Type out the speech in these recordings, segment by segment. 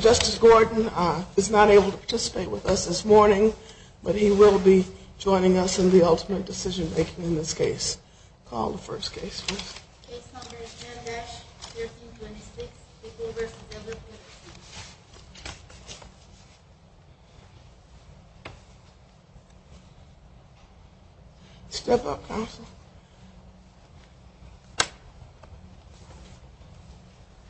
Justice Gordon is not able to participate with us this morning, but he will be joining us in the ultimate decision-making in this case. Call the first case, please. Case number is Janogash, 1326, Bigelow v. Everett University. Step up, counsel. Good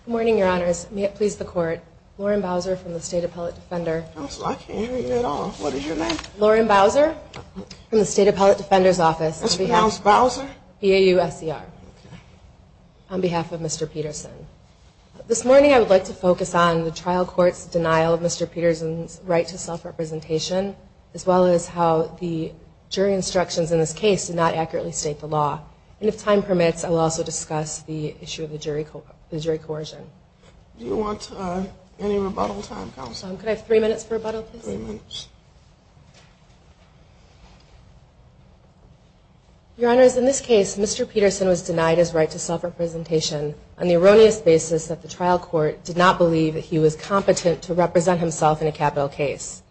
morning, Your Honors. May it please the Court, Lauren Bowser from the State Appellate Defender. Counsel, I can't hear you at all. What is your name? Lauren Bowser from the State Appellate Defender's Office. Ms. Brown's Bowser? B-A-U-S-E-R, on behalf of Mr. Peterson. This morning I would like to focus on the trial court's denial of Mr. Peterson's right to self-representation, as well as how the jury instructions in this case did not accurately state the law. And if time permits, I will also discuss the issue of the jury coercion. Do you want any rebuttal time, counsel? Could I have three minutes for rebuttal, please? Three minutes. Your Honors, in this case, Mr. Peterson was denied his right to self-representation on the erroneous basis that the trial court did not believe that he was competent to represent himself in a capital case.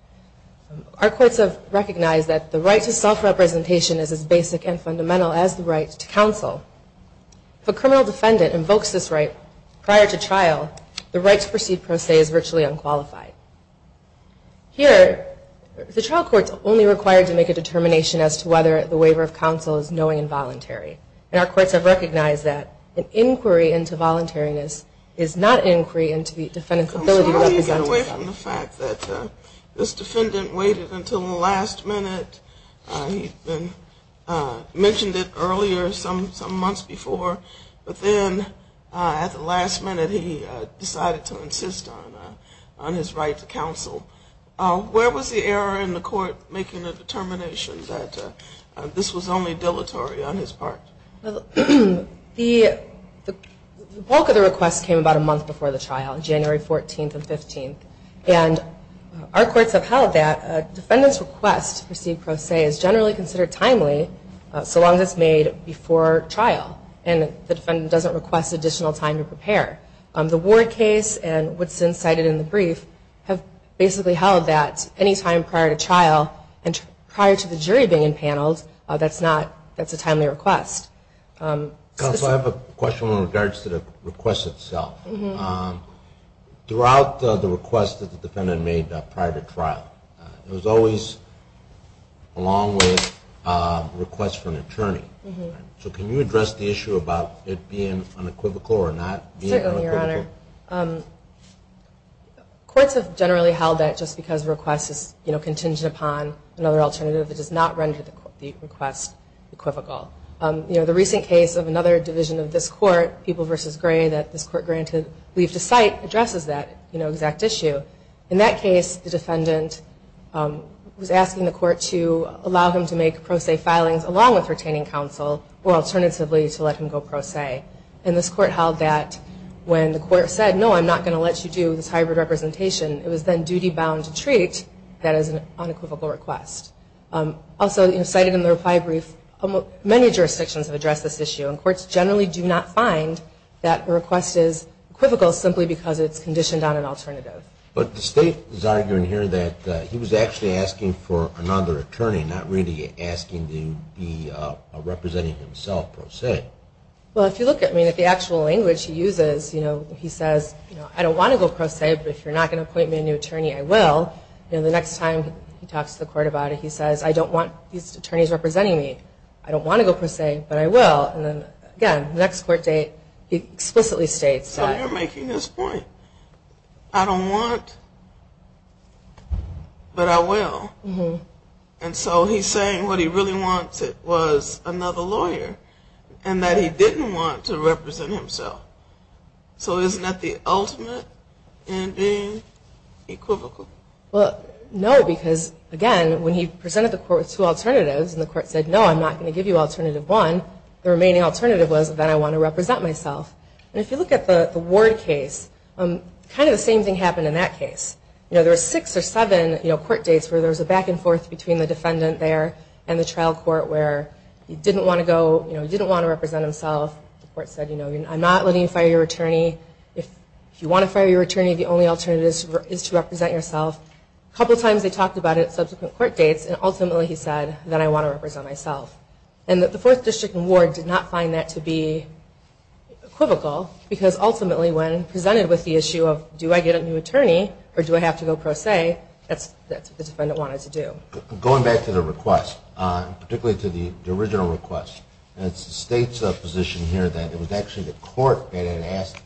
Our courts have recognized that the right to self-representation is as basic and fundamental as the right to counsel. If a criminal defendant invokes this right prior to trial, the right to proceed pro se is virtually unqualified. Here, the trial court is only required to make a determination as to whether the waiver of counsel is knowing and voluntary. And our courts have recognized that an inquiry into voluntariness is not an inquiry into the defendant's ability to represent himself. I want to get away from the fact that this defendant waited until the last minute. He mentioned it earlier some months before, but then at the last minute he decided to insist on his right to counsel. Where was the error in the court making a determination that this was only dilatory on his part? The bulk of the request came about a month before the trial, January 14th and 15th. And our courts have held that a defendant's request to proceed pro se is generally considered timely so long as it's made before trial and the defendant doesn't request additional time to prepare. The Ward case and what's been cited in the brief have basically held that any time prior to trial and prior to the jury being in panels, that's a timely request. Counsel, I have a question in regards to the request itself. Throughout the request that the defendant made prior to trial, it was always along with a request for an attorney. So can you address the issue about it being unequivocal or not being unequivocal? Thank you, Your Honor. Courts have generally held that just because a request is contingent upon another alternative, it does not render the request equivocal. The recent case of another division of this court, People v. Gray, that this court granted leave to cite addresses that exact issue. In that case, the defendant was asking the court to allow him to make pro se filings along with retaining counsel or alternatively to let him go pro se. And this court held that when the court said, no, I'm not going to let you do this hybrid representation, it was then duty-bound to treat that as an unequivocal request. Also cited in the reply brief, many jurisdictions have addressed this issue, and courts generally do not find that a request is equivocal simply because it's conditioned on an alternative. But the state is arguing here that he was actually asking for another attorney, not really asking to be representing another attorney. Well, if you look at the actual language he uses, he says, I don't want to go pro se, but if you're not going to appoint me a new attorney, I will. The next time he talks to the court about it, he says, I don't want these attorneys representing me. I don't want to go pro se, but I will. And again, the next court date, he explicitly states that. So you're making this point. I don't want, but I will. And so he's saying what he really wanted was another lawyer, and that he didn't want to represent himself. So isn't that the ultimate in being equivocal? Well, no, because again, when he presented the court with two alternatives and the court said, no, I'm not going to give you alternative one, the remaining alternative was that I want to represent myself. And if you look at the Ward case, kind of the same thing happened in that case. There were six or seven court dates where there was a back and forth between the defendant there and the trial court where he didn't want to go, he didn't want to represent himself. The court said, I'm not letting you fire your attorney. If you want to fire your attorney, the only alternative is to represent yourself. A couple times they talked about it at subsequent court dates, and ultimately he said, then I want to represent myself. And that the Fourth District and Ward did not find that to be equivocal, because ultimately when presented with the issue of do I get a new attorney or do I have to go pro se, that's what the defendant wanted to do. Going back to the request, particularly to the original request, it states a position here that it was actually the court that had asked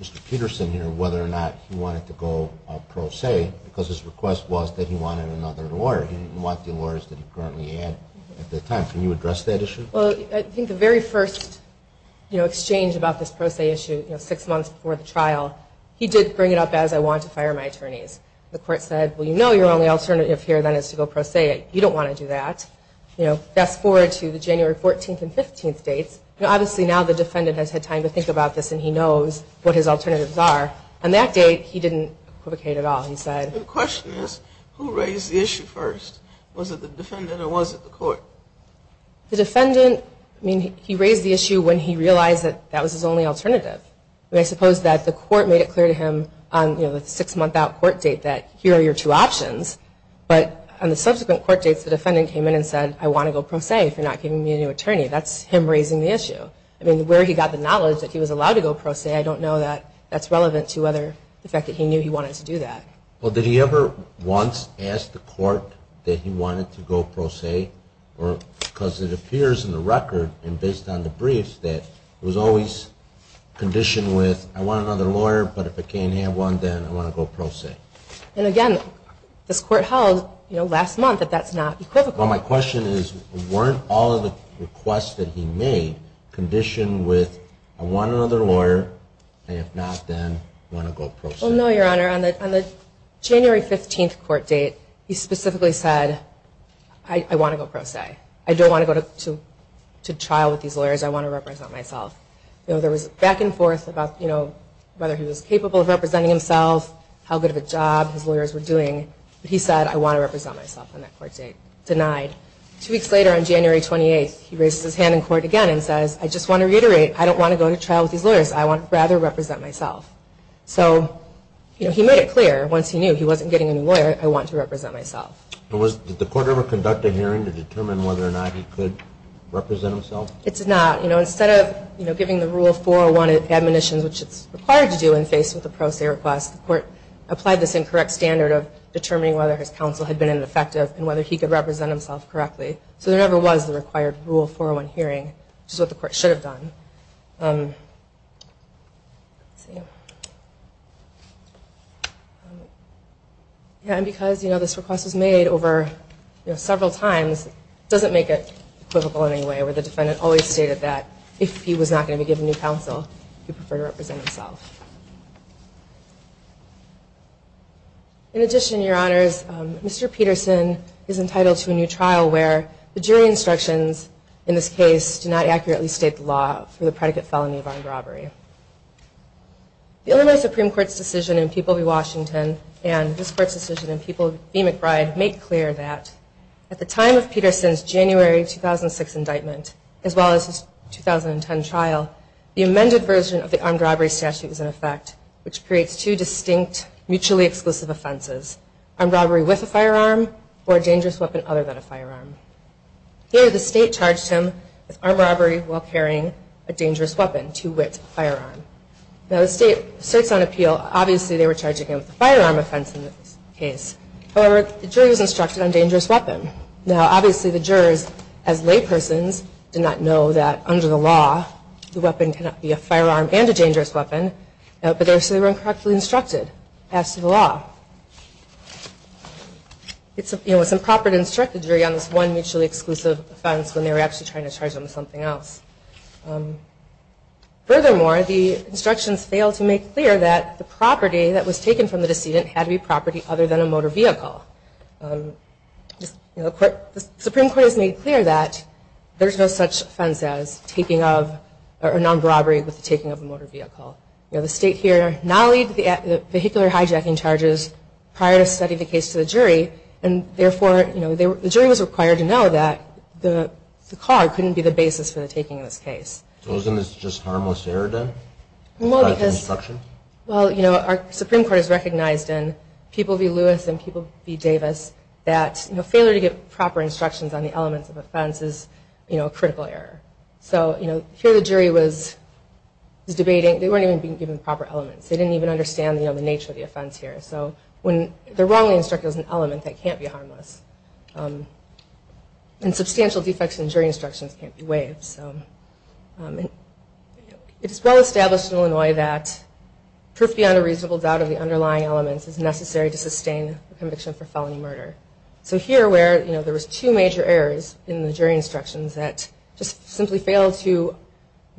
Mr. Peterson here whether or not he wanted to go pro se, because his request was that he wanted another lawyer. He didn't want the lawyers that he currently had at the time. Can you address that issue? Well, I think the very first exchange about this pro se issue, six months before the trial, he did bring it up as I wanted to fire my attorneys. The court said, well, you know your only alternative here then is to go pro se. You don't want to do that. Fast forward to the January 14th and 15th dates, obviously now the defendant has had time to think about this and he knows what his alternatives are. On that date he didn't equivocate at all. The question is, who raised the issue first? Was it the defendant or was it the court? The defendant, he raised the issue when he realized that was his only alternative. I suppose that the court made it clear to him on the six month out court date that here are your two options. But on the subsequent court dates the defendant came in and said I want to go pro se if you're not giving me a new attorney. That's him raising the issue. I mean, where he got the knowledge that he was allowed to go pro se, I don't know that that's relevant to whether the fact that he knew he wanted to do that. Well, did he ever once ask the court that he wanted to go pro se? Because it appears in the record and based on the briefs that it was always conditioned with I want another lawyer, but if I can't have one then I want to go pro se. And again, this court held last month that that's not equivocal. Well, my question is, weren't all of the requests that he made conditioned with I want another lawyer and if not then I want to go pro se? On the January 15th court date he specifically said I want to go pro se. I don't want to go to trial with these lawyers. I want to represent myself. There was back and forth about whether he was capable of representing himself, how good of a job his lawyers were doing. But he said I want to represent myself on that court date. Denied. Two weeks later on January 28th he raised his hand in court again and said I just want to reiterate I don't want to go to trial with these lawyers. I would rather represent myself. So he made it clear once he knew he wasn't getting a new lawyer I want to represent myself. Did the court ever conduct a hearing to determine whether or not he could represent himself? It did not. Instead of giving the rule 401 admonitions, which it's required to do when faced with a pro se request, the court applied this incorrect standard of determining whether his counsel had been ineffective and whether he could represent himself correctly. So there never was the required rule 401 hearing, which is what the court should have done. And because this request was made over several times, it doesn't make it equivocal in any way where the defendant always stated that if he was not going to be given new counsel he would prefer to represent himself. In addition, your honors, Mr. Peterson is entitled to a new trial where the jury instructions in this case do not accurately state the law for the predicate felon. The Illinois Supreme Court's decision in People v. Washington and this court's decision in People v. McBride make clear that at the time of Peterson's January 2006 indictment, as well as his 2010 trial, the amended version of the armed robbery statute is in effect, which creates two distinct mutually exclusive offenses, armed robbery with a firearm or a dangerous weapon other than a firearm. Here the state charged him with armed robbery while carrying a dangerous weapon, two wits, a firearm. Now the state asserts on appeal, obviously they were charging him with a firearm offense in this case. However, the jury was instructed on dangerous weapon. Now obviously the jurors, as laypersons, did not know that under the law the weapon cannot be a firearm and a dangerous weapon, but they were incorrectly instructed as to the law. It was improper to instruct the jury on this one mutually exclusive offense when they were actually trying to charge him with something else. Furthermore, the instructions fail to make clear that the property that was taken from the decedent had to be property other than a motor vehicle. The Supreme Court has made clear that there is no such offense as non-robbery with the taking of a motor vehicle. The state here now leads the vehicular hijacking charges prior to sending the case to the jury, and therefore the jury was required to know that the car couldn't be the basis for the taking of this case. So isn't this just harmless error then? Well, our Supreme Court has recognized in People v. Lewis and People v. Davis that failure to give proper instructions on the elements of offense is a critical error. So here the jury was debating, they weren't even given proper elements. They didn't even understand the nature of the offense here. So when they're wrongly instructed as an element, that can't be harmless. And substantial defects in jury instructions can't be waived. It is well established in Illinois that proof beyond a reasonable doubt of the underlying elements is necessary to sustain the conviction for felony murder. So here where there was two major errors in the jury instructions that just simply failed to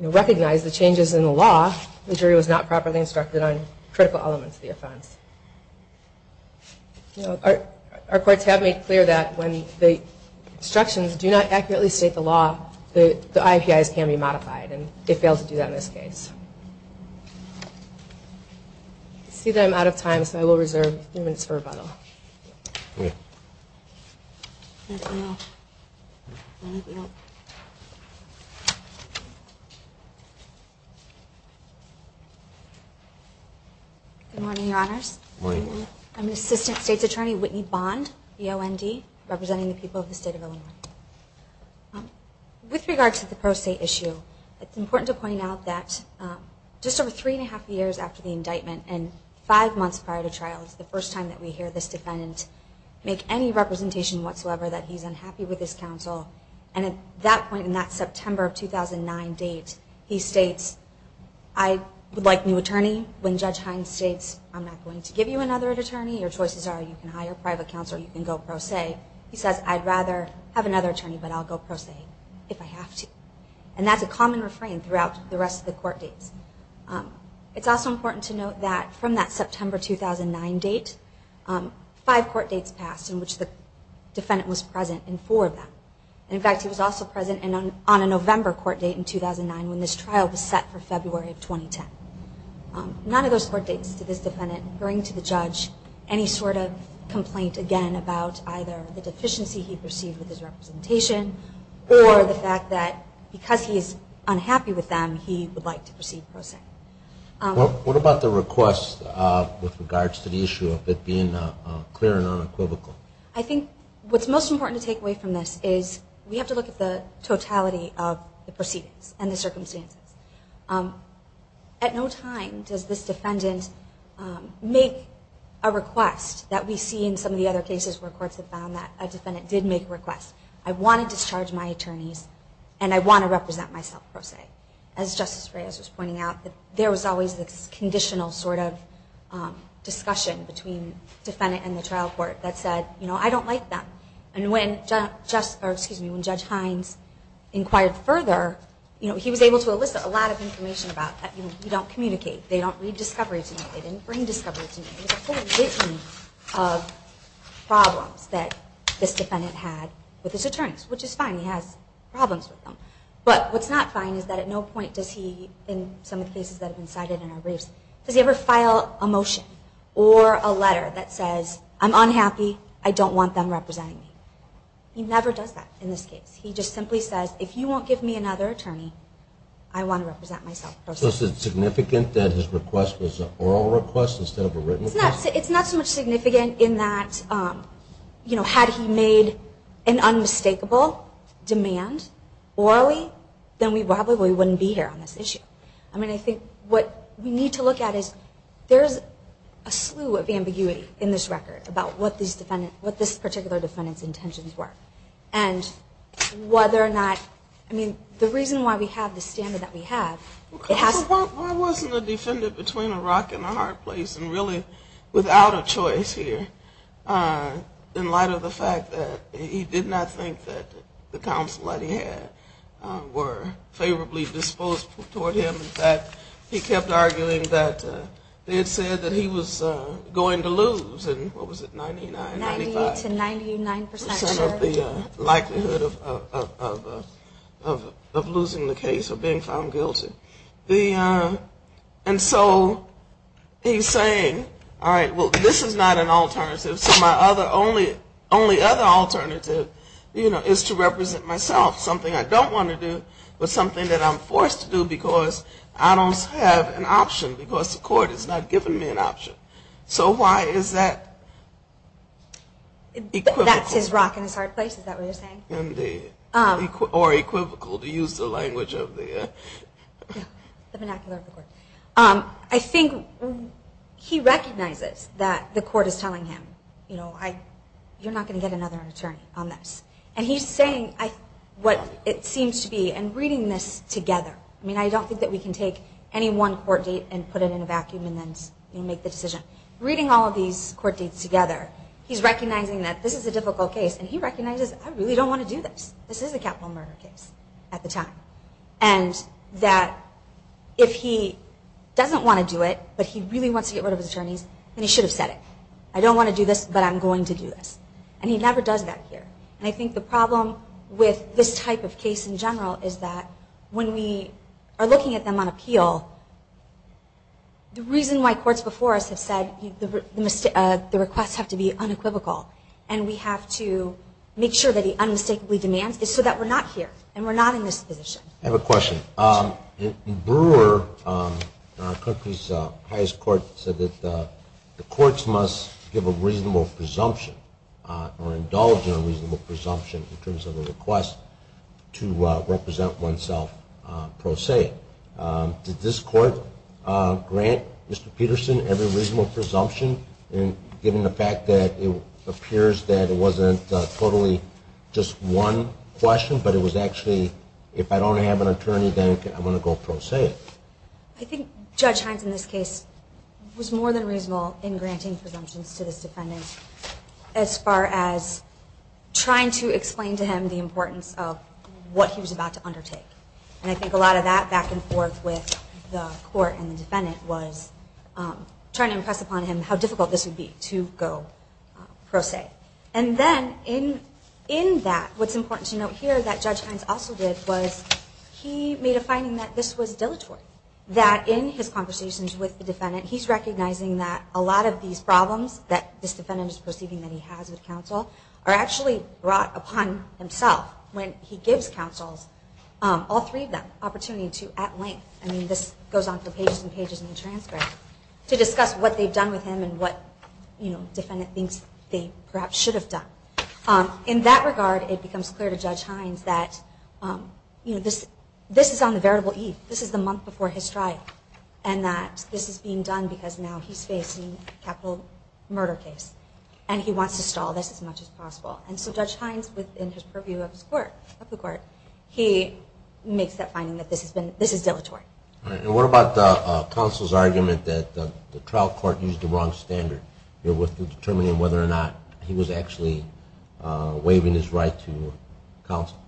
recognize the changes in the law, the jury was not properly instructed on critical elements of the offense. Our courts have made clear that when the instructions do not accurately state the law, the IPIs can be modified, and it failed to do that in this case. I see that I'm out of time, so I will reserve three minutes for rebuttal. Good morning, Your Honors. I'm Assistant State's Attorney Whitney Bond, representing the people of the state of Illinois. With regard to the pro se issue, it's important to point out that just over three and a half years after the indictment and five months prior to trial is the first time that we hear this type of statement. It's also important to note that from that September 2009 date, the state's attorney, Judge Hines, said, I would like a new attorney, when Judge Hines states, I'm not going to give you another attorney, your choices are you can hire private counsel or you can go pro se. He says, I'd rather have another attorney, but I'll go pro se if I have to. And that's a common refrain throughout the rest of the court dates. In fact, he was also present on a November court date in 2009 when this trial was set for February of 2010. None of those court dates did this defendant bring to the judge any sort of complaint, again, about either the deficiency he perceived with his representation, or the fact that because he is unhappy with them, he would like to proceed pro se. What about the request with regards to the issue of it being clear and unequivocal? I think what's most important to take away from this is we have to look at the totality of the proceedings and the circumstances. At no time does this defendant make a request that we see in some of the other cases where courts have found that a defendant did make a request. I want to discharge my attorneys and I want to represent myself pro se. As Justice Reyes was pointing out, there was always this conditional sort of discussion between the defendant and the trial court that said, I don't like them. And when Judge Hines inquired further, he was able to elicit a lot of information about that. You don't communicate, they don't read discovery to me, they didn't bring discovery to me. There was a whole regime of problems that this defendant had with his attorneys, which is fine, he has problems with them. But what's not fine is that at no point does he, in some of the cases that have been cited in our briefs, does he ever file a motion or a letter that says, I'm unhappy, I don't want them representing me. He never does that in this case. He just simply says, if you won't give me another attorney, I want to represent myself pro se. So is it significant that his request was an oral request instead of a written request? It's not so much significant in that, you know, had he made an unmistakable demand orally, then we probably wouldn't be here on this issue. I mean, I think what we need to look at is there's a slew of ambiguity in this record about what this particular defendant's intentions were. And whether or not, I mean, the reason why we have the standard that we have. Why wasn't the defendant between a rock and a hard place and really without a choice here in light of the fact that he did not think that the counsel that he had were favorably disposed toward him? In fact, he kept arguing that they had said that he was going to lose in, what was it, 99, 95? Some of the likelihood of losing the case or being found guilty. And so he's saying, all right, well, this is not an alternative. So my only other alternative, you know, is to represent myself, something I don't want to do, but something that I'm forced to do because I don't have an option, because the court has not given me an option. So why is that equivocal? That's his rock and his hard place, is that what you're saying? Indeed. Or equivocal, to use the language of the vernacular of the court. I think he recognizes that the court is telling him, you know, you're not going to get another attorney on this. And he's saying what it seems to be, and reading this together, I mean, I don't think that we can take any one court date and put it in a vacuum and then make the decision. Reading all of these court dates together, he's recognizing that this is a difficult case. And he recognizes, I really don't want to do this. This is a capital murder case at the time. And that if he doesn't want to do it, but he really wants to get rid of his attorneys, then he should have said it. I don't want to do this, but I'm going to do this. And he never does that here. And I think the problem with this type of case in general is that when we are looking at them on appeal, the reason why courts before us have said the requests have to be unequivocal, and we have to make sure that he unmistakably demands is so that we're not here, and we're not in this position. I have a question. Brewer, in our country's highest court, said that the courts must, you know, make sure that we're not in this position. We must give a reasonable presumption or indulge in a reasonable presumption in terms of a request to represent oneself pro se. Did this court grant Mr. Peterson every reasonable presumption, given the fact that it appears that it wasn't totally just one question, but it was actually, if I don't have an attorney, then I'm going to go pro se? I think Judge Hines, in this case, was more than reasonable in granting presumptions to this defendant as far as trying to explain to him the importance of what he was about to undertake. And I think a lot of that back and forth with the court and the defendant was trying to impress upon him how difficult this would be to go pro se. And then in that, what's important to note here that Judge Hines also did was he made a finding that this was dilatory. That in his conversations with the defendant, he's recognizing that a lot of these problems that this defendant is perceiving that he has with counsel are actually brought upon himself. When he gives counsels, all three of them, opportunity to, at length, I mean, this goes on for pages and pages in the transcript, to discuss what they've done with him and what, you know, defendant thinks they perhaps should be doing. In that regard, it becomes clear to Judge Hines that, you know, this is on the veritable eve. This is the month before his trial and that this is being done because now he's facing a capital murder case and he wants to stall this as much as possible. And so Judge Hines, within his purview of his court, of the court, he makes that finding that this has been, this is dilatory. And what about counsel's argument that the trial court used the wrong standard here with determining whether or not he was actually waiving his right to counsel?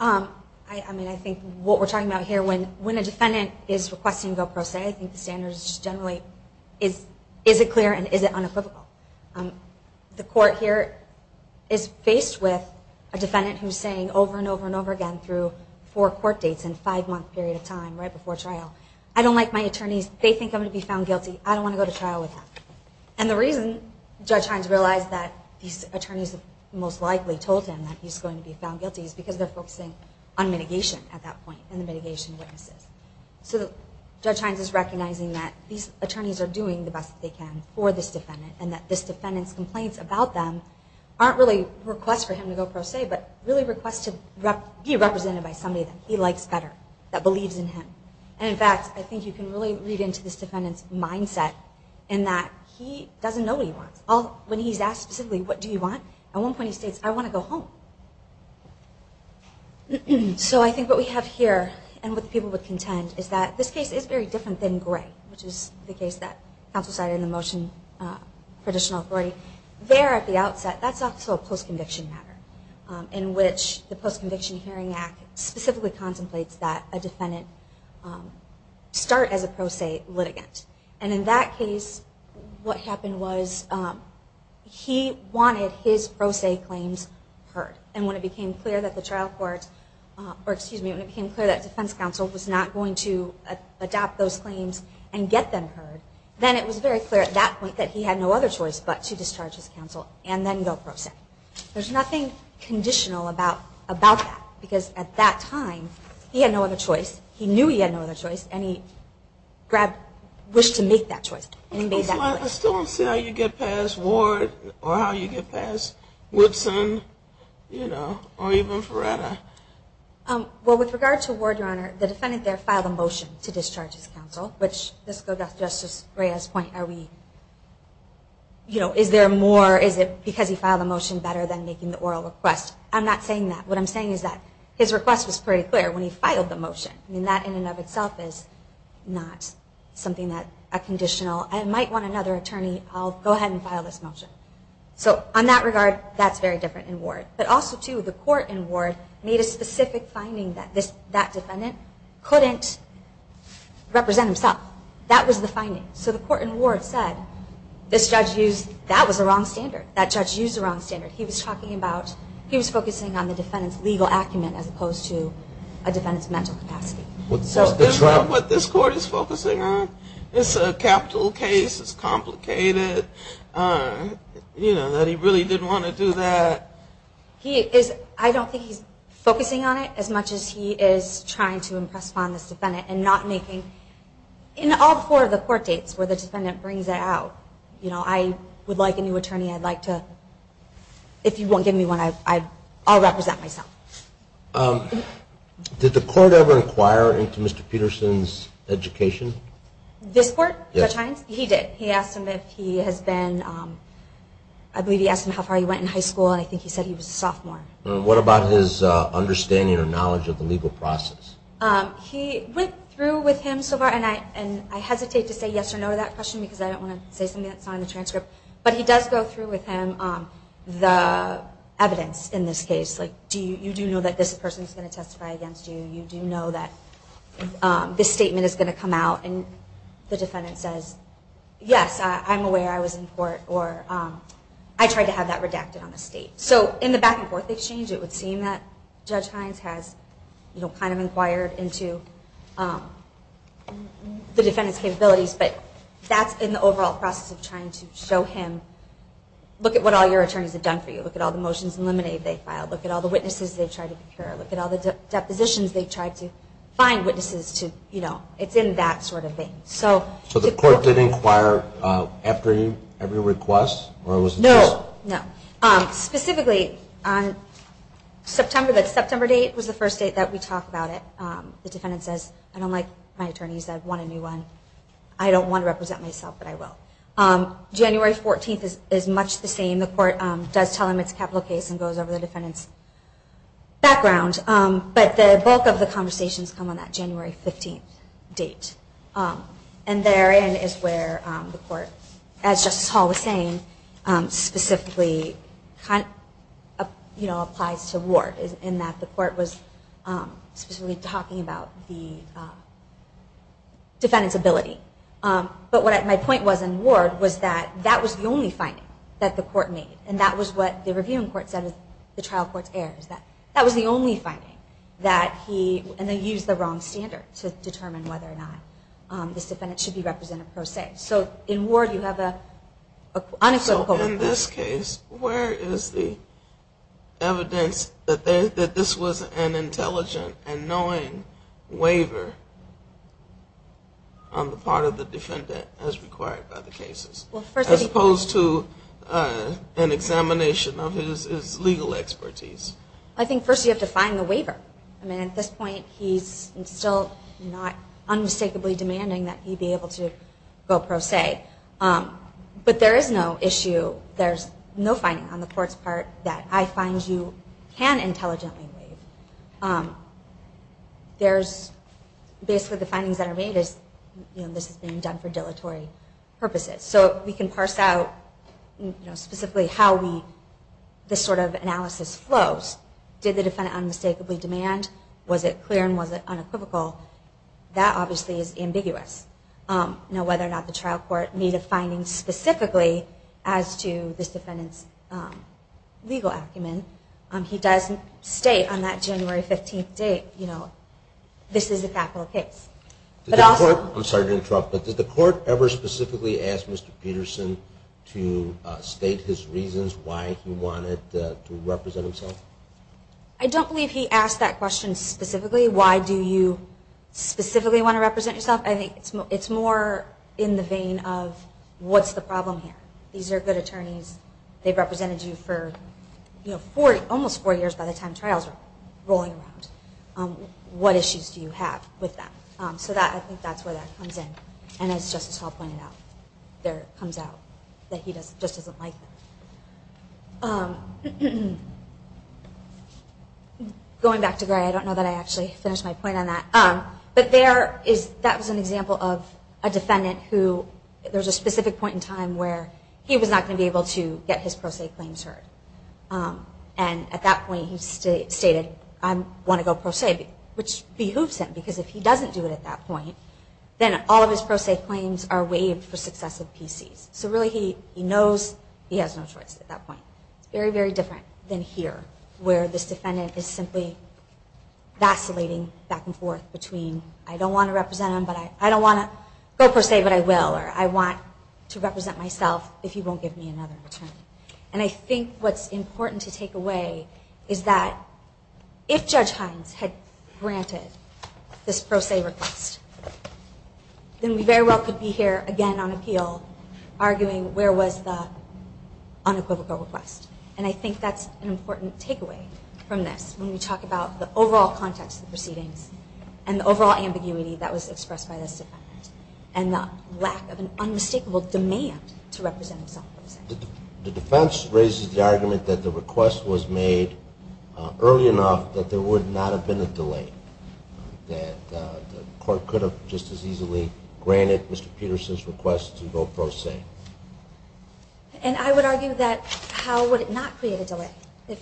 I mean, I think what we're talking about here, when a defendant is requesting go pro se, I think the standard is generally, is it clear and is it unequivocal? The court here is faced with a defendant who's saying over and over and over again through four court dates and five-month period of time, right? Before trial, I don't like my attorneys. They think I'm going to be found guilty. I don't want to go to trial with them. And the reason Judge Hines realized that these attorneys most likely told him that he's going to be found guilty is because they're focusing on mitigation at that point and the mitigation witnesses. So Judge Hines is recognizing that these attorneys are doing the best they can for this defendant and that this defendant's complaints about them aren't really requests for him to go pro se, but really requests to be represented by somebody that he likes better, that believes in him. And in fact, I think you can really read into this defendant's mindset in that he doesn't know what he wants. When he's asked specifically, what do you want? At one point he states, I want to go home. So I think what we have here and what the people would contend is that this case is very different than Gray, which is the case that counsel cited in the motion for additional authority. There at the outset, that's also a post-conviction matter in which the Post-Conviction Hearing Act specifically contemplates that a defendant, a defendant, should start as a pro se litigant. And in that case, what happened was he wanted his pro se claims heard. And when it became clear that the defense counsel was not going to adopt those claims and get them heard, then it was very clear at that point that he had no other choice but to discharge his counsel and then go pro se. There's nothing conditional about that. Because at that time, he had no other choice. He knew he had no other choice. And he wished to make that choice. I still don't see how you get past Ward or how you get past Woodson or even Ferreira. Well, with regard to Ward, Your Honor, the defendant there filed a motion to discharge his counsel. Let's go back to Justice Gray's point. Are we, you know, is there more, is it because he filed a motion better than making the oral request? I'm not saying that. What I'm saying is that his request was pretty clear when he filed the motion. I mean, that in and of itself is not something that a conditional, I might want another attorney, I'll go ahead and file this motion. So on that regard, that's very different in Ward. But also, too, the court in Ward made a specific finding that this, that defendant couldn't represent himself. That was the finding. So the court in Ward said, this judge used, that was the wrong standard. That judge used the wrong standard. He was talking about, he was focusing on the defendant's legal acumen as opposed to a defendant's mental capacity. So is that what this court is focusing on? It's a capital case, it's complicated, you know, that he really didn't want to do that. He is, I don't think he's focusing on it as much as he is trying to impress upon this defendant and not making, you know, any kind of impression. In all four of the court dates where the defendant brings it out, you know, I would like a new attorney, I'd like to, if you won't give me one, I'll represent myself. Did the court ever inquire into Mr. Peterson's education? This court? He did. He asked him if he has been, I believe he asked him how far he went in high school and I think he said he was a sophomore. What about his understanding or knowledge of the legal process? He went through with him so far, and I hesitate to say yes or no to that question because I don't want to say something that's not in the transcript, but he does go through with him the evidence in this case. Like, do you know that this person is going to testify against you? Do you know that this statement is going to come out and the defendant says, yes, I'm aware I was in court, or I tried to have that redacted on the state. So in the back and forth exchange it would seem that Judge Hines has kind of inquired into the defendant's capabilities, but that's in the overall process of trying to show him, look at what all your attorneys have done for you, look at all the motions and liminates they've filed, look at all the witnesses they've tried to procure, look at all the depositions they've tried to find witnesses to, you know, it's in that sort of vein. So the court did inquire after every request? No, no. Specifically, September, the September date was the first date that we talked about it. The defendant says, I don't like my attorneys, I want a new one, I don't want to represent myself, but I will. January 14th is much the same, the court does tell him it's a capital case and goes over the defendant's background, but the bulk of the conversations come on that January 15th date. And therein is where the court, as Justice Hall was saying, specifically applies to Ward, in that the court was specifically talking about the defendant's ability. But what my point was in Ward was that that was the only finding that the court made, and that was what the reviewing court said, the trial court's errors, that that was the only finding that he, and they used the wrong standard to determine whether or not this defendant should be represented pro se. So in Ward you have an unequivocal opinion. So in this case, where is the evidence that this was an intelligent and knowing waiver on the part of the defendant as required by the cases? As opposed to an examination of his legal expertise. I think first you have to find the waiver. I mean at this point he's still not unmistakably demanding that he be able to go pro se. But there is no issue, there's no finding on the court's part that I find you can intelligently waive. Basically the findings that are made is this is being done for dilatory purposes. So we can parse out specifically how this sort of analysis flows. Did the defendant unmistakably demand? Was it clear and was it unequivocal? That obviously is ambiguous. Whether or not the trial court made a finding specifically as to this defendant's legal acumen, he doesn't state on that January 15th date, this is a capital case. Did the court ever specifically ask Mr. Peterson to state his reasons why he wanted to represent himself? I don't believe he asked that question specifically. Why do you specifically want to represent yourself? I think it's more in the vein of what's the problem here? These are good attorneys, they've represented you for almost four years by the time trials are rolling around. What issues do you have with them? I think that's where that comes in. Going back to Gray, I don't know that I actually finished my point on that. But that was an example of a defendant who, there was a specific point in time where he was not going to be able to get his pro se claims heard. And at that point he stated, I want to go pro se, which behooves him. Because if he doesn't do it at that point, then all of his pro se claims are waived for successive PC's. So really he knows he has no choice at that point. It's very, very different than here, where this defendant is simply vacillating back and forth between, I don't want to represent him, but I don't want to go pro se, but I will. Or I want to represent myself if he won't give me another return. And I think what's important to take away is that if Judge Hines had granted this pro se request, then we very well could be here again on appeal arguing where was the unequivocal request. And I think that's an important takeaway from this, when we talk about the overall context of the proceedings, and the overall ambiguity that was expressed by this defendant, and the lack of an unmistakable demand to represent himself. The defense raises the argument that the request was made early enough that there would not have been a delay. That the court could have just as easily granted Mr. Peterson's request to go pro se. And I would argue that how would it not create a delay? It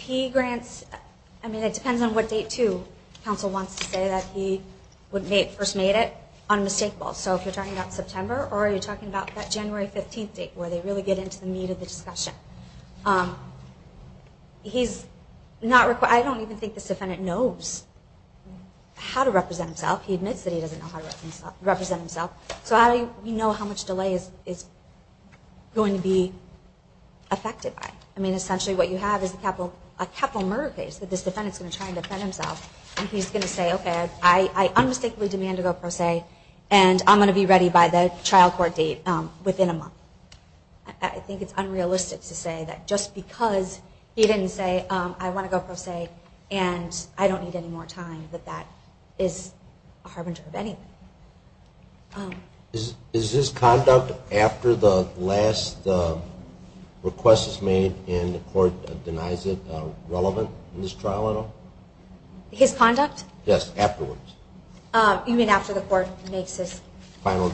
depends on what date, too. Counsel wants to say that he first made it unmistakable. So if you're talking about September, or you're talking about that January 15th date, where they really get into the meat of the discussion. I don't even think this defendant knows how to represent himself. He admits that he doesn't know how to represent himself. So we know how much delay is going to be affected by it. Essentially what you have is a capital murder case that this defendant is going to try to defend himself. And he's going to say, okay, I unmistakably demand to go pro se, and I'm going to be ready by the trial court date within a month. I think it's unrealistic to say that just because he didn't say, I want to go pro se, and I don't need any more time, that that is a harbinger of anything. Is his conduct after the last request is made and the court denies it relevant in this trial at all? His conduct? Yes, afterwards. You mean after the court makes his final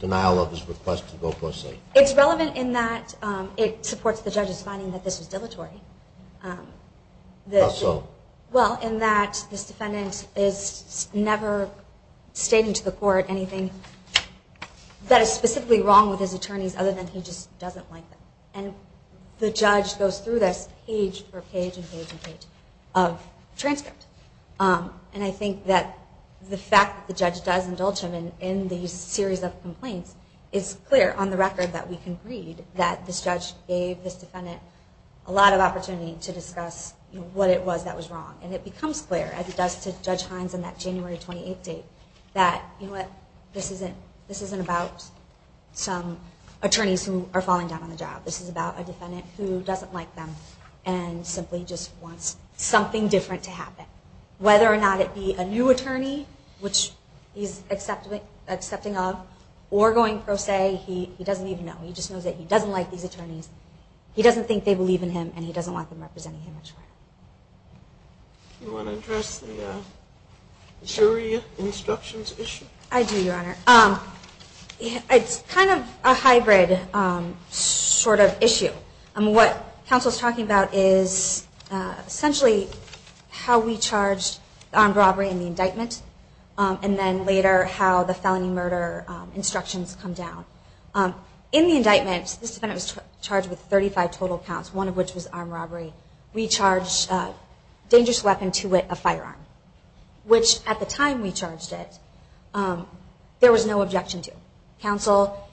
denial of his request to go pro se? It's relevant in that it supports the judge's finding that this was dilatory. How so? Well, in that this defendant is never stating to the court anything that is specifically wrong with his attorneys other than he just doesn't like them. And the judge goes through this page for page and page and page of transcript. And I think that the fact that the judge does indulge him in these series of complaints is clear on the record that we can read that this judge gave this defendant a lot of opportunity to discuss what it was that was wrong. And it becomes clear, as it does to Judge Hines in that January 28th date, that this isn't about some attorneys who are falling down on the job. This is about a defendant who doesn't like them and simply just wants something different to happen. Whether or not it be a new attorney, which he's accepting of, or going pro se, he doesn't even know. He just knows that he doesn't like these attorneys. He doesn't think they believe in him, and he doesn't want them representing him. Do you want to address the jury instructions issue? I do, Your Honor. It's kind of a hybrid sort of issue. What counsel is talking about is essentially how we charged armed robbery in the indictment, and then later how the felony murder instructions come down. In the indictment, this defendant was charged with 35 total counts, one of which was armed robbery. We charged a dangerous weapon to wit, a firearm, which at the time we charged it, there was no objection to. Counsel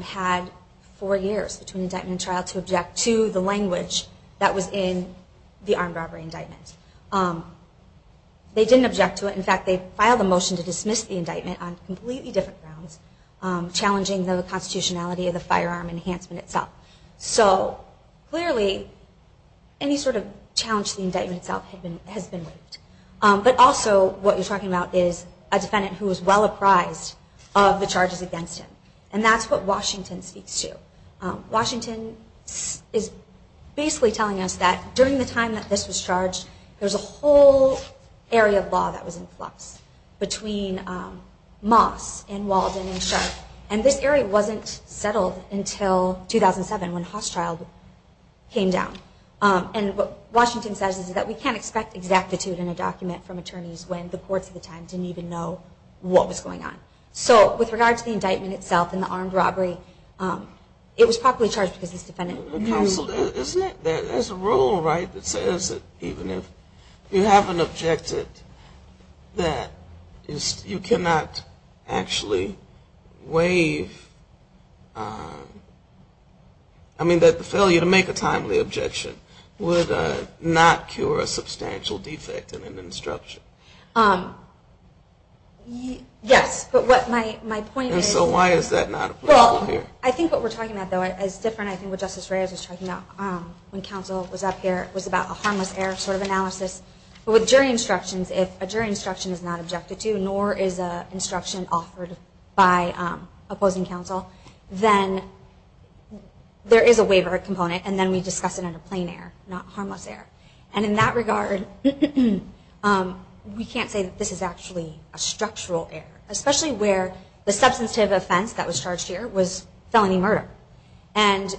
had four years between indictment and trial to object to the language that was in the armed robbery indictment. They didn't object to it. In fact, they filed a motion to dismiss the indictment on completely different grounds, challenging the constitutionality of the firearm enhancement itself. Clearly, any sort of challenge to the indictment itself has been waived. But also, what you're talking about is a defendant who is well apprised of the charges against him, and that's what Washington speaks to. Washington is basically telling us that during the time that this was charged, there was a whole area of law that was in flux between Moss and Walden and Sharp, and this area wasn't settled until 2007 when Hosschild came down. And what Washington says is that we can't expect exactitude in a document from attorneys when the courts at the time didn't even know what was going on. So with regard to the indictment itself and the armed robbery, it was properly charged because this defendant... Counsel, isn't it? There's a rule, right, that says that even if you haven't objected, that you cannot actually waive... I mean, that the failure to make a timely objection would not cure a substantial defect in an instruction. Yes, but my point is... And so why is that not applicable here? Well, I think what we're talking about, though, is different, I think, what Justice Reyes was talking about when counsel was up here. It was about a harmless error sort of analysis. But with jury instructions, if a jury instruction is not objected to, or is an instruction offered by opposing counsel, then there is a waiver component, and then we discuss it under plain error, not harmless error. And in that regard, we can't say that this is actually a structural error, especially where the substantive offense that was charged here was felony murder. And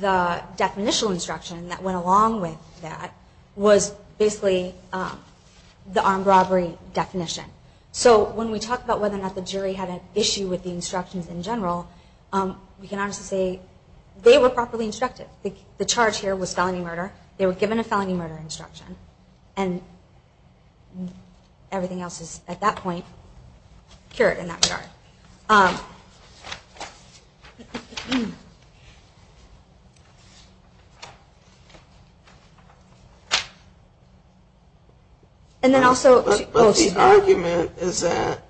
the definitional instruction that went along with that was basically the armed robbery definition. So when we talk about whether or not the jury had an issue with the instructions in general, we can honestly say they were properly instructed. The charge here was felony murder. They were given a felony murder instruction. And everything else is, at that point, cured in that regard. But the argument is that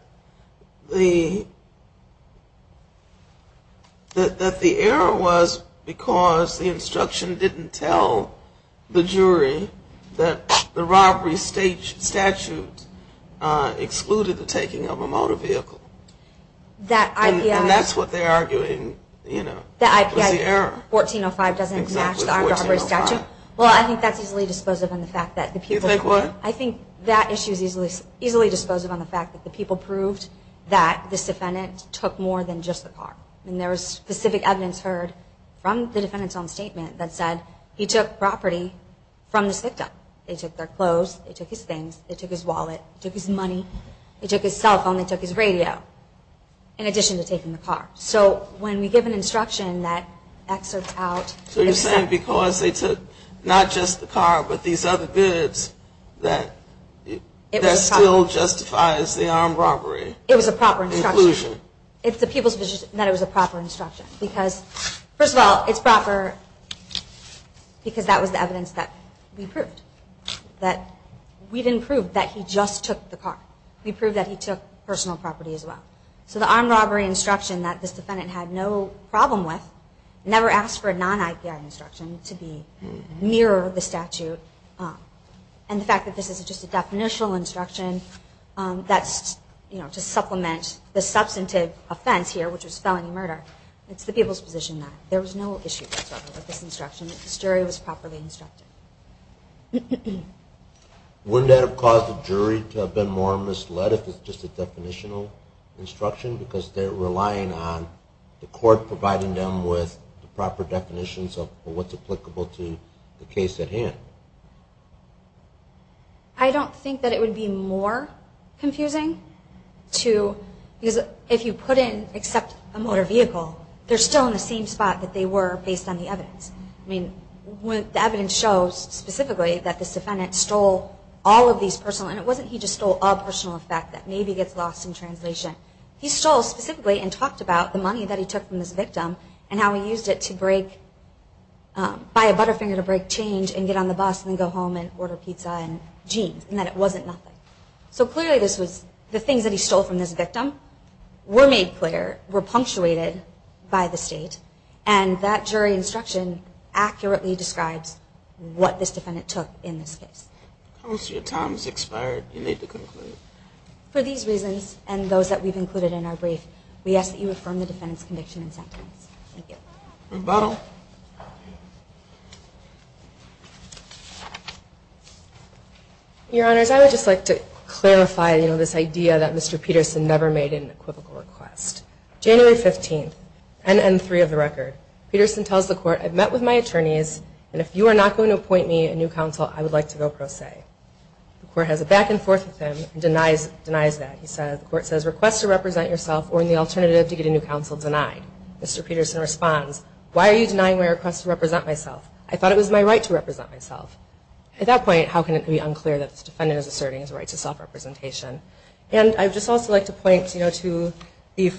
the error was because the instruction didn't tell the jury that the robbery statute excluded the taking of a motor vehicle. And that's what they're arguing was the error. Well, I think that's easily dispositive on the fact that the people proved that this defendant took more than just the car. And there was specific evidence heard from the defendant's own statement that said he took property from the victim. They took their clothes. They took his things. They took his wallet. They took his money. They took his cell phone. They took his radio, in addition to taking the car. So when we give an instruction that excerpts out. So you're saying because they took not just the car but these other goods, that still justifies the armed robbery. It was a proper instruction. Inclusion. It's the people's position that it was a proper instruction. First of all, it's proper because that was the evidence that we proved. We didn't prove that he just took the car. We proved that he took personal property as well. So the armed robbery instruction that this defendant had no problem with, never asked for a non-IBI instruction to mirror the statute. And the fact that this is just a definitional instruction to supplement the substantive offense here, which is felony murder. It's the people's position that there was no issue whatsoever with this instruction. The jury was properly instructed. Wouldn't that have caused the jury to have been more misled if it's just a definitional instruction because they're relying on the court providing them with the proper definitions of what's applicable to the case at hand? I don't think that it would be more confusing to, if you put in except a motor vehicle, they're still in the same spot that they were based on the evidence. The evidence shows specifically that this defendant stole all of these personal, and it wasn't he just stole all personal effect that maybe gets lost in translation. He stole specifically and talked about the money that he took from this victim and how he used it to buy a Butterfinger to break change and get on the bus and then go home and order pizza and jeans and that it wasn't nothing. So clearly this was the things that he stole from this victim were made clear, were punctuated by the state, and that jury instruction accurately describes what this defendant took in this case. How much of your time has expired do you need to conclude? For these reasons and those that we've included in our brief, we ask that you affirm the defendant's conviction and sentence. Thank you. Rebuttal. Your Honors, I would just like to clarify, you know, this idea that Mr. Peterson never made an equivocal request. January 15th, NN3 of the record, Peterson tells the court, I've met with my attorneys, and if you are not going to appoint me a new counsel, I would like to go pro se. The court has a back and forth with him and denies that. The court says, request to represent yourself or in the alternative to get a new counsel denied. Mr. Peterson responds, why are you denying that? I'm not denying my request to represent myself. I thought it was my right to represent myself. At that point, how can it be unclear that this defendant is asserting his right to self-representation? And I'd just also like to point, you know, to the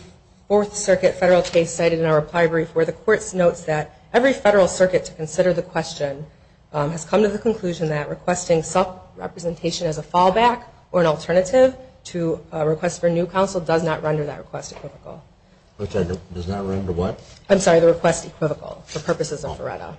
Fourth Circuit federal case cited in our reply brief where the court notes that every federal circuit to consider the question has come to the conclusion that requesting self-representation as a fallback or an alternative to a request for a new counsel does not render that request equivocal. Which does not render what? I'm sorry, the request equivocal for purposes of Veretta.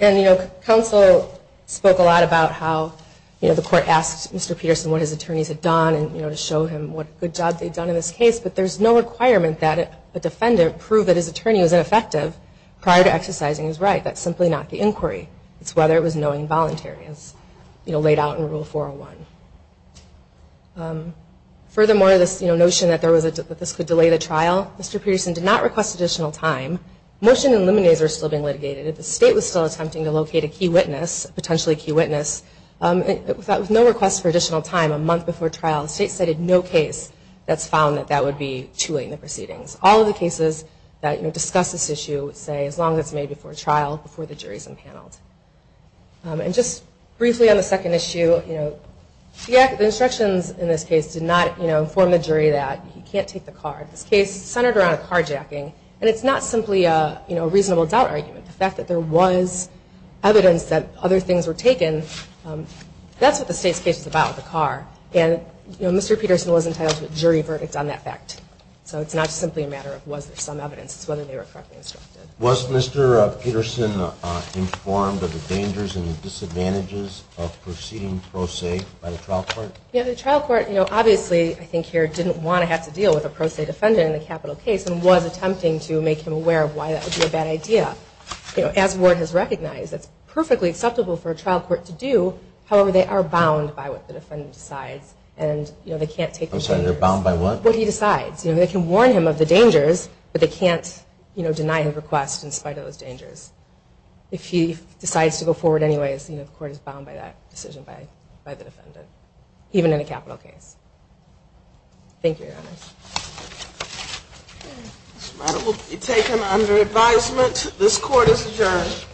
And, you know, counsel spoke a lot about how, you know, the court asked Mr. Peterson what his attorneys had done and, you know, to show him what good job they'd done in this case, but there's no requirement that a defendant prove that his attorney was ineffective prior to exercising his right. That's simply not the inquiry. It's whether it was knowing and voluntary as, you know, laid out in Rule 401. Furthermore, this, you know, notion that this could delay the trial, Mr. Peterson did not request additional time. Motion and liminese are still being litigated. If the state was still attempting to locate a key witness, potentially a key witness, with no request for additional time a month before trial, the state cited no case that's found that that would be too late in the proceedings. All of the cases that, you know, discuss this issue would say as long as it's made before trial, before the jury's impaneled. And just briefly on the second issue, you know, the instructions in this case did not, you know, inform the jury that you can't take the card. This case centered around carjacking. And it's not simply, you know, a reasonable doubt argument. The fact that there was evidence that other things were taken, that's what the state's case is about, the car. And, you know, Mr. Peterson was entitled to a jury verdict on that fact. So it's not simply a matter of was there some evidence. It's whether they were correctly instructed. Was Mr. Peterson informed of the dangers and the disadvantages of proceeding pro se by the trial court? Yeah, the trial court, you know, obviously, I think here, didn't want to have to deal with a pro se defendant in the capital case and was attempting to make him aware of why that would be a bad idea. You know, as Ward has recognized, it's perfectly acceptable for a trial court to do. However, they are bound by what the defendant decides. And, you know, they can't take the jurors. I'm sorry, they're bound by what? What he decides. You know, they can warn him of the dangers, but they can't, you know, If he decides to go forward anyways, you know, the court is bound by that decision by the defendant. Even in a capital case. Thank you, Your Honor. This matter will be taken under advisement. This court is adjourned.